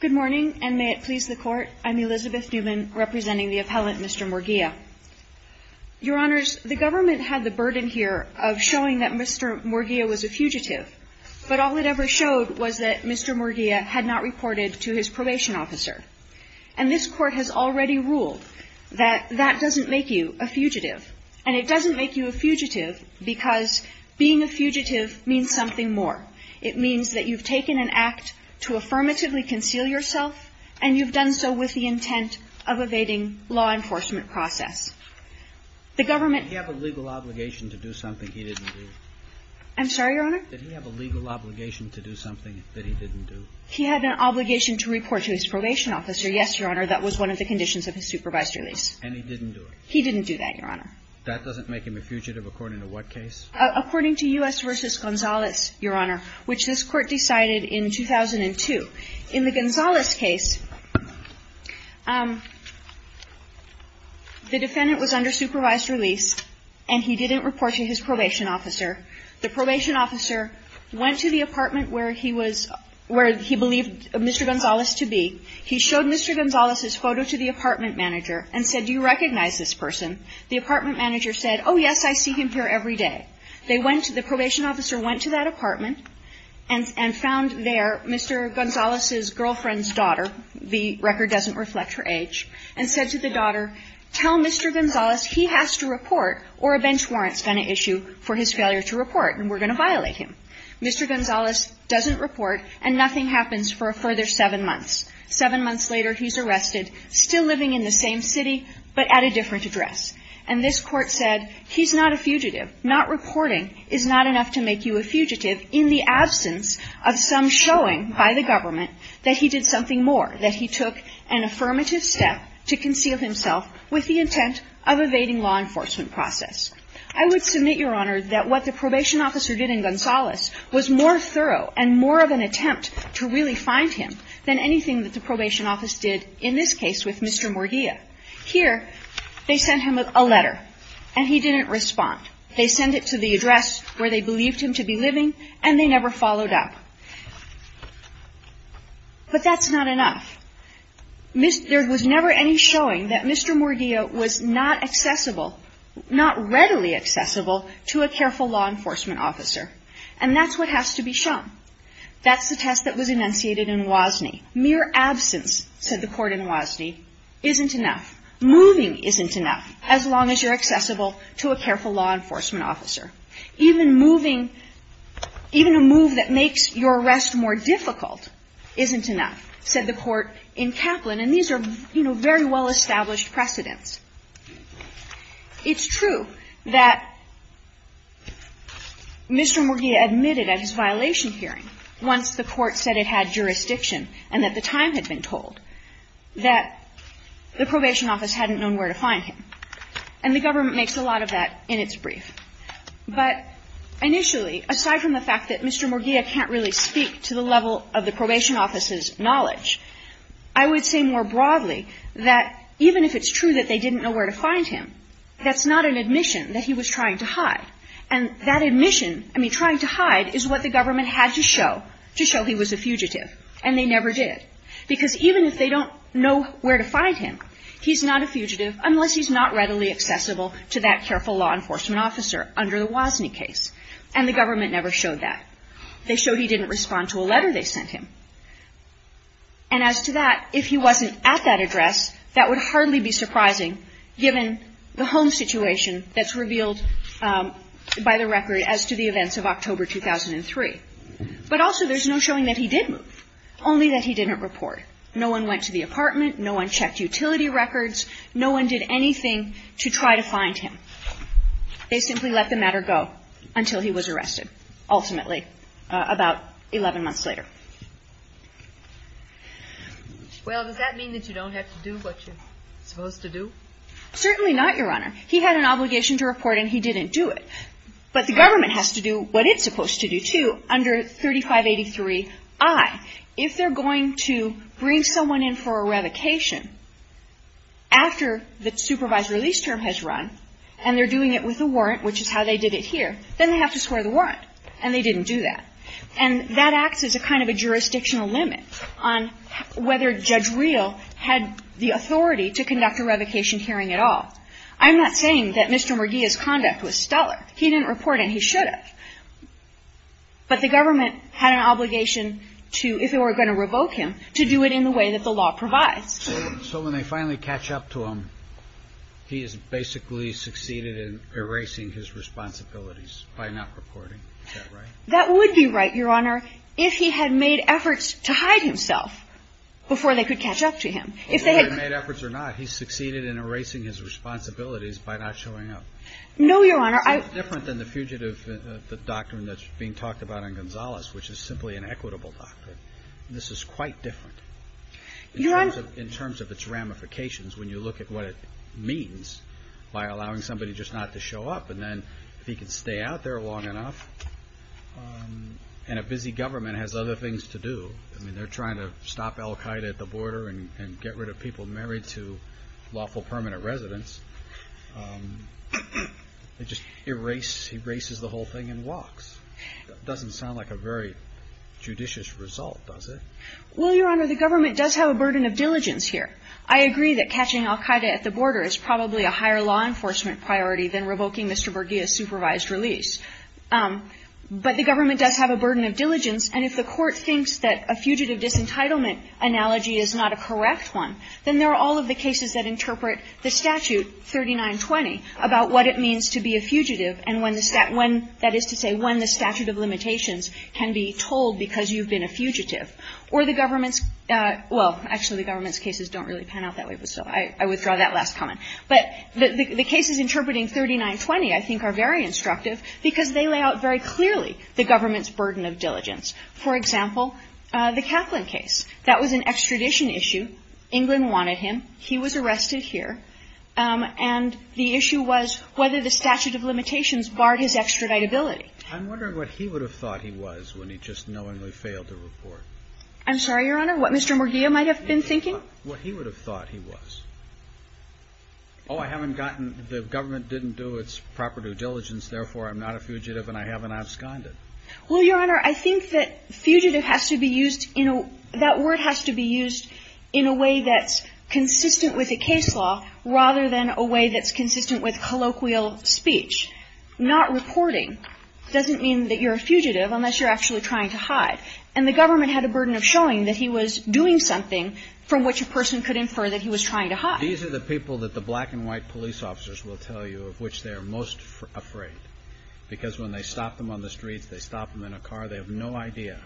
Good morning, and may it please the Court. I'm Elizabeth Newman, representing the appellant Mr. Murguia. Your Honors, the government had the burden here of showing that Mr. Murguia was a fugitive. But all it ever showed was that Mr. Murguia had not reported to his probation officer. And this Court has already ruled that that doesn't make you a fugitive. And it doesn't make you a fugitive because being a fugitive means something more. It means that you've taken an act to affirmatively conceal yourself, and you've done so with the intent of evading law enforcement process. The government... Did he have a legal obligation to do something he didn't do? I'm sorry, Your Honor? Did he have a legal obligation to do something that he didn't do? He had an obligation to report to his probation officer, yes, Your Honor. That was one of the conditions of his supervised release. And he didn't do it? He didn't do that, Your Honor. That doesn't make him a fugitive according to what case? According to U.S. v. Gonzalez, Your Honor, which this Court decided in 2002. In the Gonzalez case, the defendant was under supervised release, and he didn't report to his probation officer. The probation officer went to the apartment where he was – where he believed Mr. Gonzalez to be. He showed Mr. Gonzalez's photo to the apartment manager and said, do you recognize this person? The apartment manager said, oh, yes, I see him here every day. They went to – the probation officer went to that apartment and found there Mr. Gonzalez's girlfriend's daughter. The record doesn't reflect her age, and said to the daughter, tell Mr. Gonzalez he has to report or a bench warrant's going to issue for his failure to report, and we're going to violate him. Mr. Gonzalez doesn't report, and nothing happens for a further seven months. Seven months later, he's arrested, still living in the same city, but at a different address. And this Court said he's not a fugitive. Not reporting is not enough to make you a fugitive in the absence of some showing by the government that he did something more, that he took an affirmative step to conceal himself with the intent of evading law enforcement process. I would submit, Your Honor, that what the probation officer did in Gonzalez was more thorough and more of an attempt to really find him than anything that the probation office did, in this case, with Mr. Morgilla. Here, they sent him a letter, and he didn't respond. They sent it to the address where they believed him to be living, and they never followed up. But that's not enough. There was never any showing that Mr. Morgilla was not accessible, not readily accessible to a careful law enforcement officer, and that's what has to be shown. That's the test that was enunciated in Wozni. Mere absence, said the court in Wozni, isn't enough. Moving isn't enough, as long as you're accessible to a careful law enforcement officer. Even moving, even a move that makes your arrest more difficult isn't enough, said the court in Kaplan. And these are, you know, very well-established precedents. It's true that Mr. Morgilla admitted at his violation hearing, once the court said it had jurisdiction and that the time had been told, that the probation office hadn't known where to find him. And the government makes a lot of that in its brief. But initially, aside from the fact that Mr. Morgilla can't really speak to the level of the probation office's knowledge, I would say more broadly that even if it's true that they didn't know where to find him, that's not an admission that he was trying to hide. And that admission, I mean, trying to hide, is what the government had to show, to show he was a fugitive, and they never did. Because even if they don't know where to find him, he's not a fugitive unless he's not readily accessible to that careful law enforcement officer under the Wozni case. And the government never showed that. They showed he didn't respond to a letter they sent him. And as to that, if he wasn't at that address, that would hardly be surprising, given the home situation that's revealed by the record as to the events of October 2003. But also, there's no showing that he did move, only that he didn't report. No one went to the apartment. No one checked utility records. No one did anything to try to find him. They simply let the matter go until he was arrested, ultimately, about 11 months later. Well, does that mean that you don't have to do what you're supposed to do? Certainly not, Your Honor. He had an obligation to report, and he didn't do it. But the government has to do what it's supposed to do, too, under 3583i. If they're going to bring someone in for a revocation after the supervised release term has run, and they're doing it with a warrant, which is how they did it here, then they have to swear the warrant. And they didn't do that. And that acts as a kind of a jurisdictional limit on whether Judge Real had the authority to conduct a revocation hearing at all. I'm not saying that Mr. Murgia's conduct was stellar. He didn't report, and he should have. But the government had an obligation to, if they were going to revoke him, to do it in the way that the law provides. So when they finally catch up to him, he has basically succeeded in erasing his responsibilities by not reporting. Is that right? That would be right, Your Honor, if he had made efforts to hide himself before they could catch up to him. If they had made efforts or not, he succeeded in erasing his responsibilities by not showing up. No, Your Honor. It's different than the fugitive doctrine that's being talked about in Gonzales, which is simply an equitable doctrine. This is quite different. Your Honor. In terms of its ramifications, when you look at what it means by allowing somebody just not to show up, and then if he can stay out there long enough, and a busy government has other things to do, I mean, they're trying to stop al Qaeda at the border and get rid of people married to lawful permanent residents. It just erases the whole thing and walks. It doesn't sound like a very judicious result, does it? Well, Your Honor, the government does have a burden of diligence here. I agree that catching al Qaeda at the border is probably a higher law enforcement priority than revoking Mr. Bergia's supervised release. But the government does have a burden of diligence, and if the Court thinks that a fugitive disentitlement analogy is not a correct one, then there are all of the cases that interpret the statute 3920 about what it means to be a fugitive and when the statute of limitations can be told because you've been a fugitive. Or the government's – well, actually, the government's cases don't really pan out that way, so I withdraw that last comment. But the cases interpreting 3920, I think, are very instructive because they lay out very clearly the government's burden of diligence. For example, the Kaplan case. That was an extradition issue. England wanted him. He was arrested here. And the issue was whether the statute of limitations barred his extraditability. I'm wondering what he would have thought he was when he just knowingly failed to report. I'm sorry, Your Honor? What Mr. Bergia might have been thinking? What he would have thought he was. Oh, I haven't gotten the government didn't do its proper due diligence, therefore I'm not a fugitive and I haven't absconded. Well, Your Honor, I think that fugitive has to be used in a – that word has to be used in a way that's consistent with a case law rather than a way that's consistent with colloquial speech. Not reporting doesn't mean that you're a fugitive unless you're actually trying to hide. And the government had a burden of showing that he was doing something from which a person could infer that he was trying to hide. These are the people that the black and white police officers will tell you of which they are most afraid. Because when they stop them on the streets, they stop them in a car, they have no idea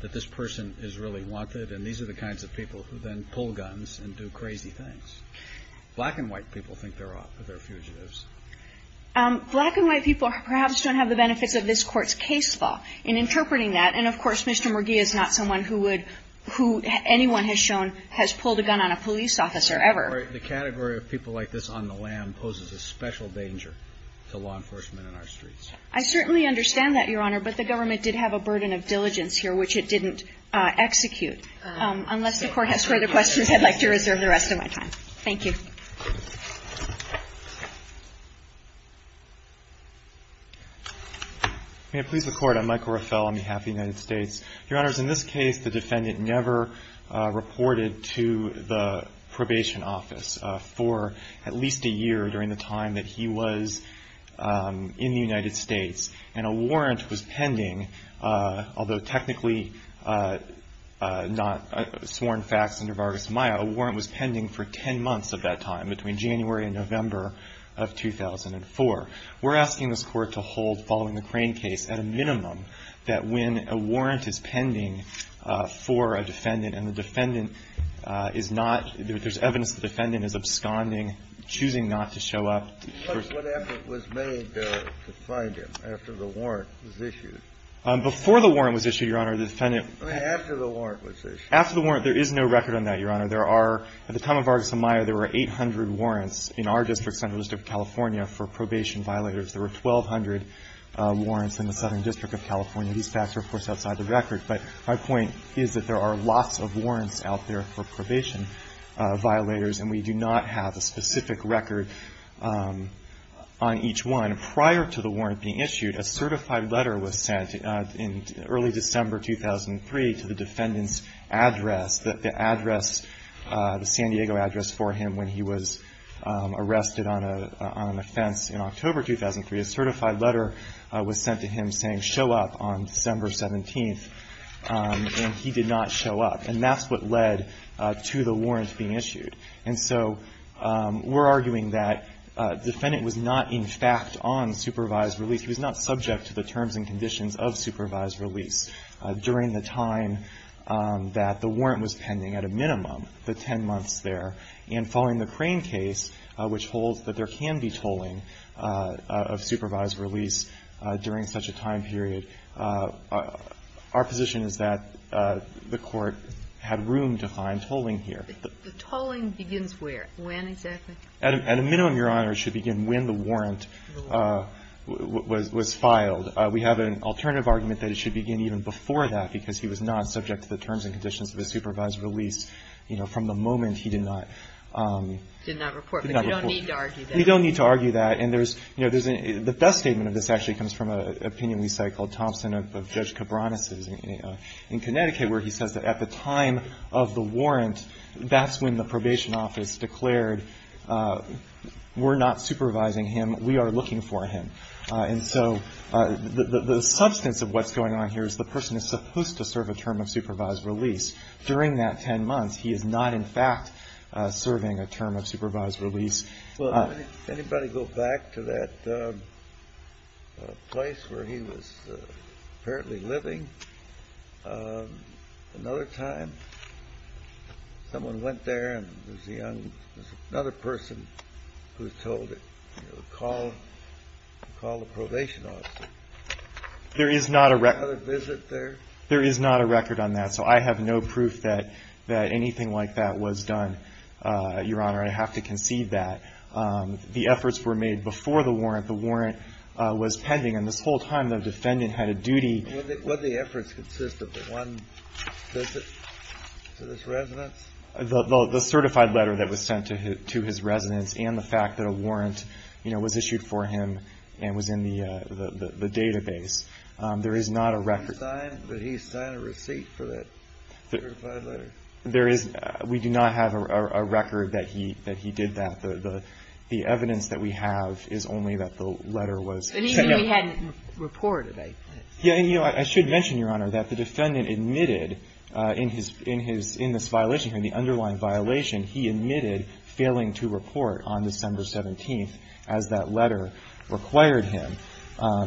that this person is really wanted. And these are the kinds of people who then pull guns and do crazy things. Black and white people think they're fugitives. Black and white people perhaps don't have the benefits of this Court's case law in the sense that Mr. Murgia is not someone who would – who anyone has shown has pulled a gun on a police officer ever. The category of people like this on the lam poses a special danger to law enforcement on our streets. I certainly understand that, Your Honor, but the government did have a burden of diligence here which it didn't execute. Unless the Court has further questions, I'd like to reserve the rest of my time. Thank you. May I please record? I'm Michael Rafel on behalf of the United States. Your Honors, in this case, the defendant never reported to the probation office for at least a year during the time that he was in the United States. And a warrant was pending, although technically not sworn facts under Vargas-Maya, a warrant was pending for 10 months of that time. Between January and November of 2004. We're asking this Court to hold following the Crane case at a minimum that when a warrant is pending for a defendant and the defendant is not – there's evidence the defendant is absconding, choosing not to show up. What effort was made to find him after the warrant was issued? Before the warrant was issued, Your Honor, the defendant – After the warrant was issued. After the warrant. There is no record on that, Your Honor. There are – at the time of Vargas-Maya, there were 800 warrants in our district, Central District of California, for probation violators. There were 1,200 warrants in the Southern District of California. These facts are, of course, outside the record. But my point is that there are lots of warrants out there for probation violators, and we do not have a specific record on each one. Prior to the warrant being issued, a certified letter was sent in early December 2003 to the defendant's address, the address – the San Diego address for him when he was arrested on an offense in October 2003. A certified letter was sent to him saying, show up on December 17th, and he did not show up. And that's what led to the warrant being issued. And so we're arguing that the defendant was not, in fact, on supervised release. He was not subject to the terms and conditions of supervised release. During the time that the warrant was pending, at a minimum, the 10 months there, and following the Crane case, which holds that there can be tolling of supervised release during such a time period, our position is that the Court had room to find tolling here. The tolling begins where? When exactly? At a minimum, Your Honor, it should begin when the warrant was filed. We have an alternative argument that it should begin even before that, because he was not subject to the terms and conditions of a supervised release, you know, from the moment he did not – did not report. But you don't need to argue that. We don't need to argue that. And there's – you know, the best statement of this actually comes from an opinion we cite called Thompson of Judge Cabranes' in Connecticut, where he says that at the time of the warrant, that's when the probation office declared, we're not supervising him, we are looking for him. And so the substance of what's going on here is the person is supposed to serve a term of supervised release. During that 10 months, he is not, in fact, serving a term of supervised release. Well, anybody go back to that place where he was apparently living another time? Someone went there, and there's a young – there's another person who was told to call – to call the probation office. There is not a record. Another visit there? There is not a record on that. So I have no proof that anything like that was done, Your Honor. I have to concede that. The efforts were made before the warrant. The warrant was pending. And this whole time, the defendant had a duty. Would the efforts consist of the one visit to this residence? The certified letter that was sent to his residence and the fact that a warrant, you know, was issued for him and was in the database. There is not a record. Did he sign a receipt for that certified letter? There is – we do not have a record that he did that. The evidence that we have is only that the letter was – But even he hadn't reported, I think. Yeah, and, you know, I should mention, Your Honor, that the defendant admitted in his – in this violation here, in the underlying violation, he admitted failing to report on December 17th as that letter required him.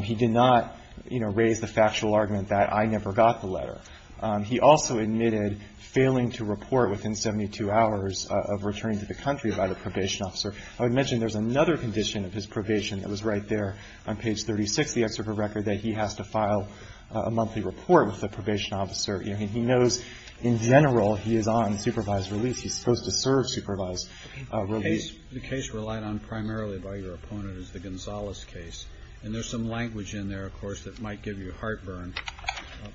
He did not, you know, raise the factual argument that I never got the letter. He also admitted failing to report within 72 hours of returning to the country by the probation officer. I would mention there's another condition of his probation that was right there on page 36 of the excerpt of the record that he has to file a monthly report with the probation officer. He knows in general he is on supervised release. He's supposed to serve supervised release. The case relied on primarily by your opponent is the Gonzales case. And there's some language in there, of course, that might give you heartburn.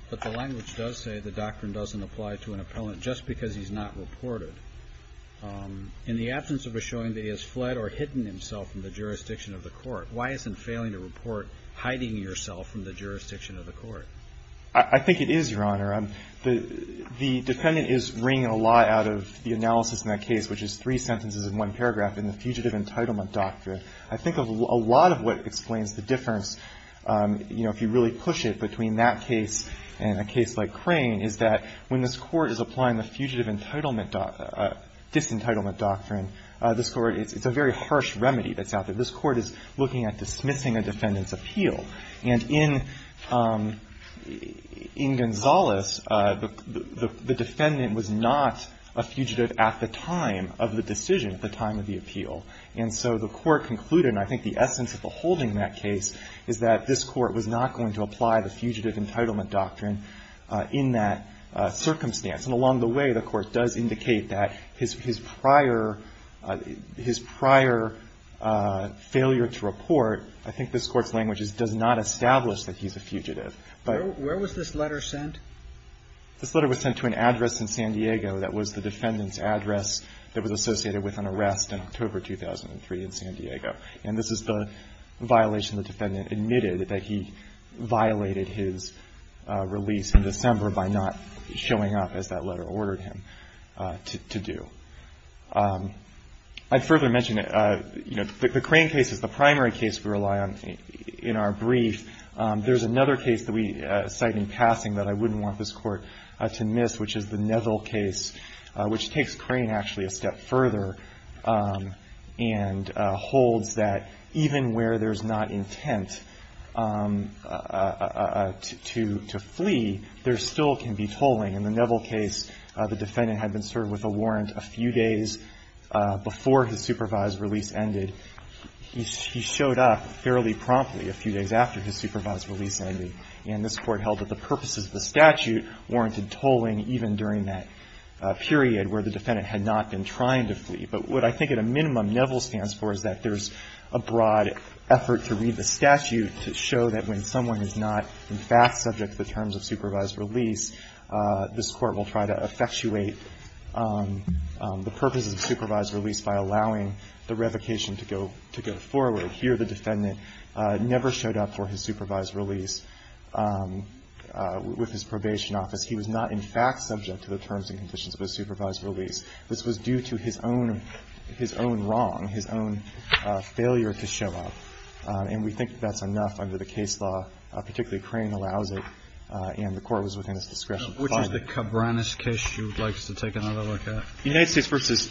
But the language does say the doctrine doesn't apply to an appellant just because he's not reported. In the absence of a showing that he has fled or hidden himself from the jurisdiction of the court, why isn't failing to report hiding yourself from the jurisdiction of the court? I think it is, Your Honor. The defendant is wringing a lot out of the analysis in that case, which is three sentences and one paragraph, in the Fugitive Entitlement Doctrine. I think a lot of what explains the difference, you know, if you really push it between that case and a case like Crane, is that when this Court is applying the Fugitive Entitlement – Disentitlement Doctrine, this Court – it's a very harsh remedy that's out there. This Court is looking at dismissing a defendant's appeal. And in Gonzales, the defendant was not a fugitive at the time of the decision, at the time of the appeal. And so the Court concluded, and I think the essence of the holding in that case, is that this Court was not going to apply the Fugitive Entitlement Doctrine in that circumstance. And along the way, the Court does indicate that his prior – his prior failure to report, I think this Court's language is, does not establish that he's a fugitive. But – Where was this letter sent? This letter was sent to an address in San Diego that was the defendant's address that was associated with an arrest in October 2003 in San Diego. And this is the violation the defendant admitted, that he violated his release in December by not showing up as that letter ordered him to do. I'd further mention, you know, the Crane case is the primary case we rely on in our brief. There's another case that we cite in passing that I wouldn't want this Court to miss, which is the Neville case, which takes Crane actually a step further and holds that even where there's not intent to flee, there still can be tolling. In the Neville case, the defendant had been served with a warrant a few days before his supervised release ended. He showed up fairly promptly a few days after his supervised release ended, and this Court held that the purposes of the statute warranted tolling even during that period where the defendant had not been trying to flee. But what I think at a minimum Neville stands for is that there's a broad effort to read the statute to show that when someone is not in fact subject to the terms of supervised release, this Court will try to effectuate the purposes of supervised release by allowing the revocation to go forward. Here the defendant never showed up for his supervised release with his probation office. He was not in fact subject to the terms and conditions of his supervised release. This was due to his own wrong, his own failure to show up. And we think that's enough under the case law, particularly Crane allows it, and the Court was within its discretion. Kennedy. Which is the Cabranes case you would like us to take another look at? The United States v.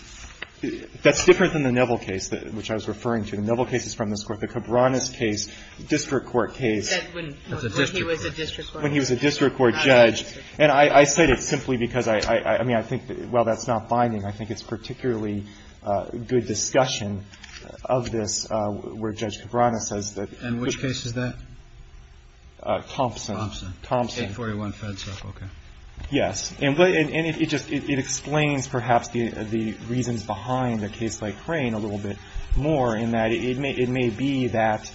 That's different than the Neville case, which I was referring to. The Neville case is from this Court. The Cabranes case, district court case. When he was a district court judge. And I cite it simply because, I mean, I think while that's not binding, I think it's particularly good discussion of this where Judge Cabranes says that. And which case is that? Thompson. Thompson. 841 Fedsup. Okay. Yes. And it just, it explains perhaps the reasons behind a case like Crane a little bit more in that it may be that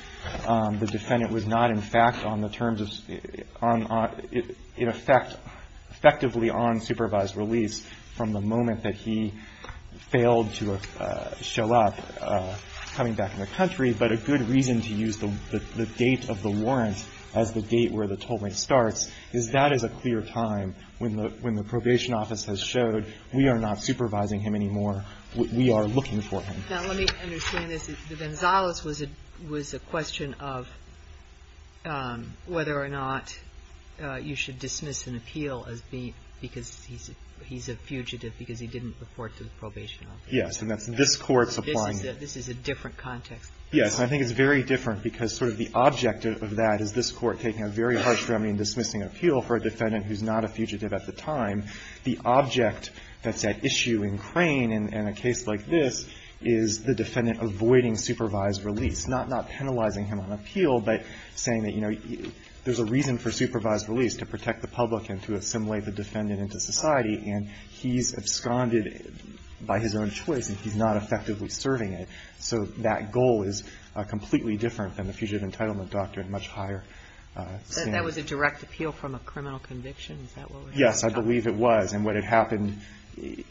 the defendant was not in fact on the terms of, on, in effect, effectively on supervised release from the moment that he failed to show up coming back in the country. But a good reason to use the date of the warrant as the date where the toll rate starts is that is a clear time when the probation office has showed we are not supervising him anymore. We are looking for him. Now, let me understand this. The Gonzales was a question of whether or not you should dismiss an appeal as being because he's a fugitive because he didn't report to the probation office. Yes. And this Court's applying it. This is a different context. Yes. And I think it's very different because sort of the object of that is this Court taking a very harsh remedy in dismissing an appeal for a defendant who's not a fugitive at the time. The object that's at issue in Crane in a case like this is the defendant avoiding supervised release, not penalizing him on appeal, but saying that, you know, there's a reason for supervised release, to protect the public and to assimilate the defendant into society, and he's absconded by his own choice and he's not effectively serving it. So that goal is completely different than the Fugitive Entitlement Doctrine in much higher standards. So that was a direct appeal from a criminal conviction? Is that what we're talking about? Yes, I believe it was. And what had happened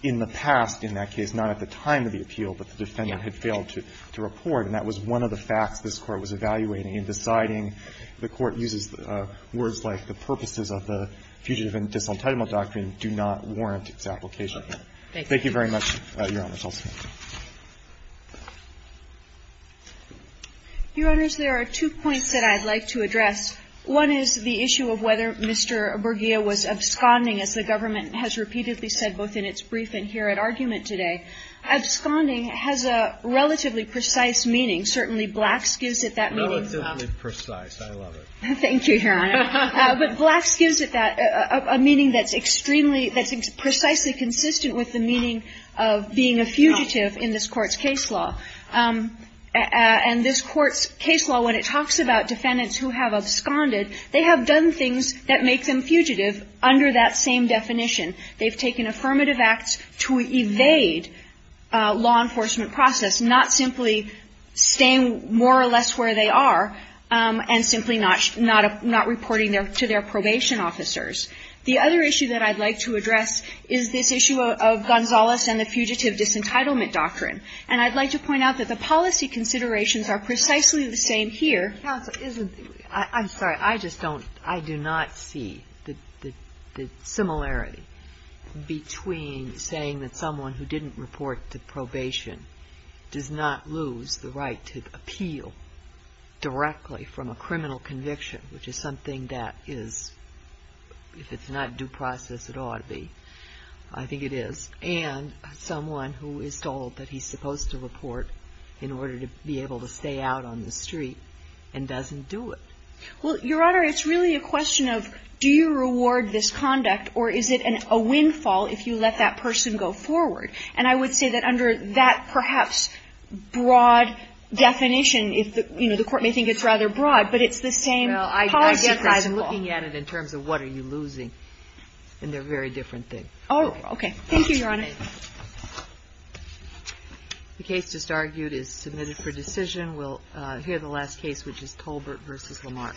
in the past in that case, not at the time of the appeal, but the defendant had failed to report, and that was one of the facts this Court was evaluating in deciding the Court uses words like the purposes of the Fugitive Entitlement Doctrine do not warrant its application. Thank you. Thank you very much, Your Honors. Your Honors, there are two points that I'd like to address. One is the issue of whether Mr. Bergia was absconding, as the government has repeatedly said, both in its brief and here at argument today. Absconding has a relatively precise meaning. Certainly, Blacks gives it that meaning. Relatively precise. I love it. Thank you, Your Honor. But Blacks gives it that, a meaning that's extremely, that's precisely consistent with the meaning of being a fugitive in this Court's case law. And this Court's case law, when it talks about defendants who have absconded, they have done things that make them fugitive under that same definition. They've taken affirmative acts to evade law enforcement process, not simply staying more or less where they are and simply not reporting to their probation officers. The other issue that I'd like to address is this issue of Gonzales and the Fugitive Disentitlement Doctrine. And I'd like to point out that the policy considerations are precisely the same here. Counsel, isn't the ---- I'm sorry. I just don't, I do not see the similarity between saying that someone who didn't report to probation does not lose the right to appeal directly from a criminal conviction, which is something that is, if it's not due process, it ought to be. I think it is. And someone who is told that he's supposed to report in order to be able to stay out on the street and doesn't do it. Well, Your Honor, it's really a question of do you reward this conduct or is it a windfall if you let that person go forward? And I would say that under that perhaps broad definition, if the, you know, the Court may think it's rather broad, but it's the same policy prioritization law. Well, I guess I'm looking at it in terms of what are you losing, and they're very different things. Oh, okay. Thank you, Your Honor. The case just argued is submitted for decision. We'll hear the last case, which is Tolbert v. Lamar. Thank you.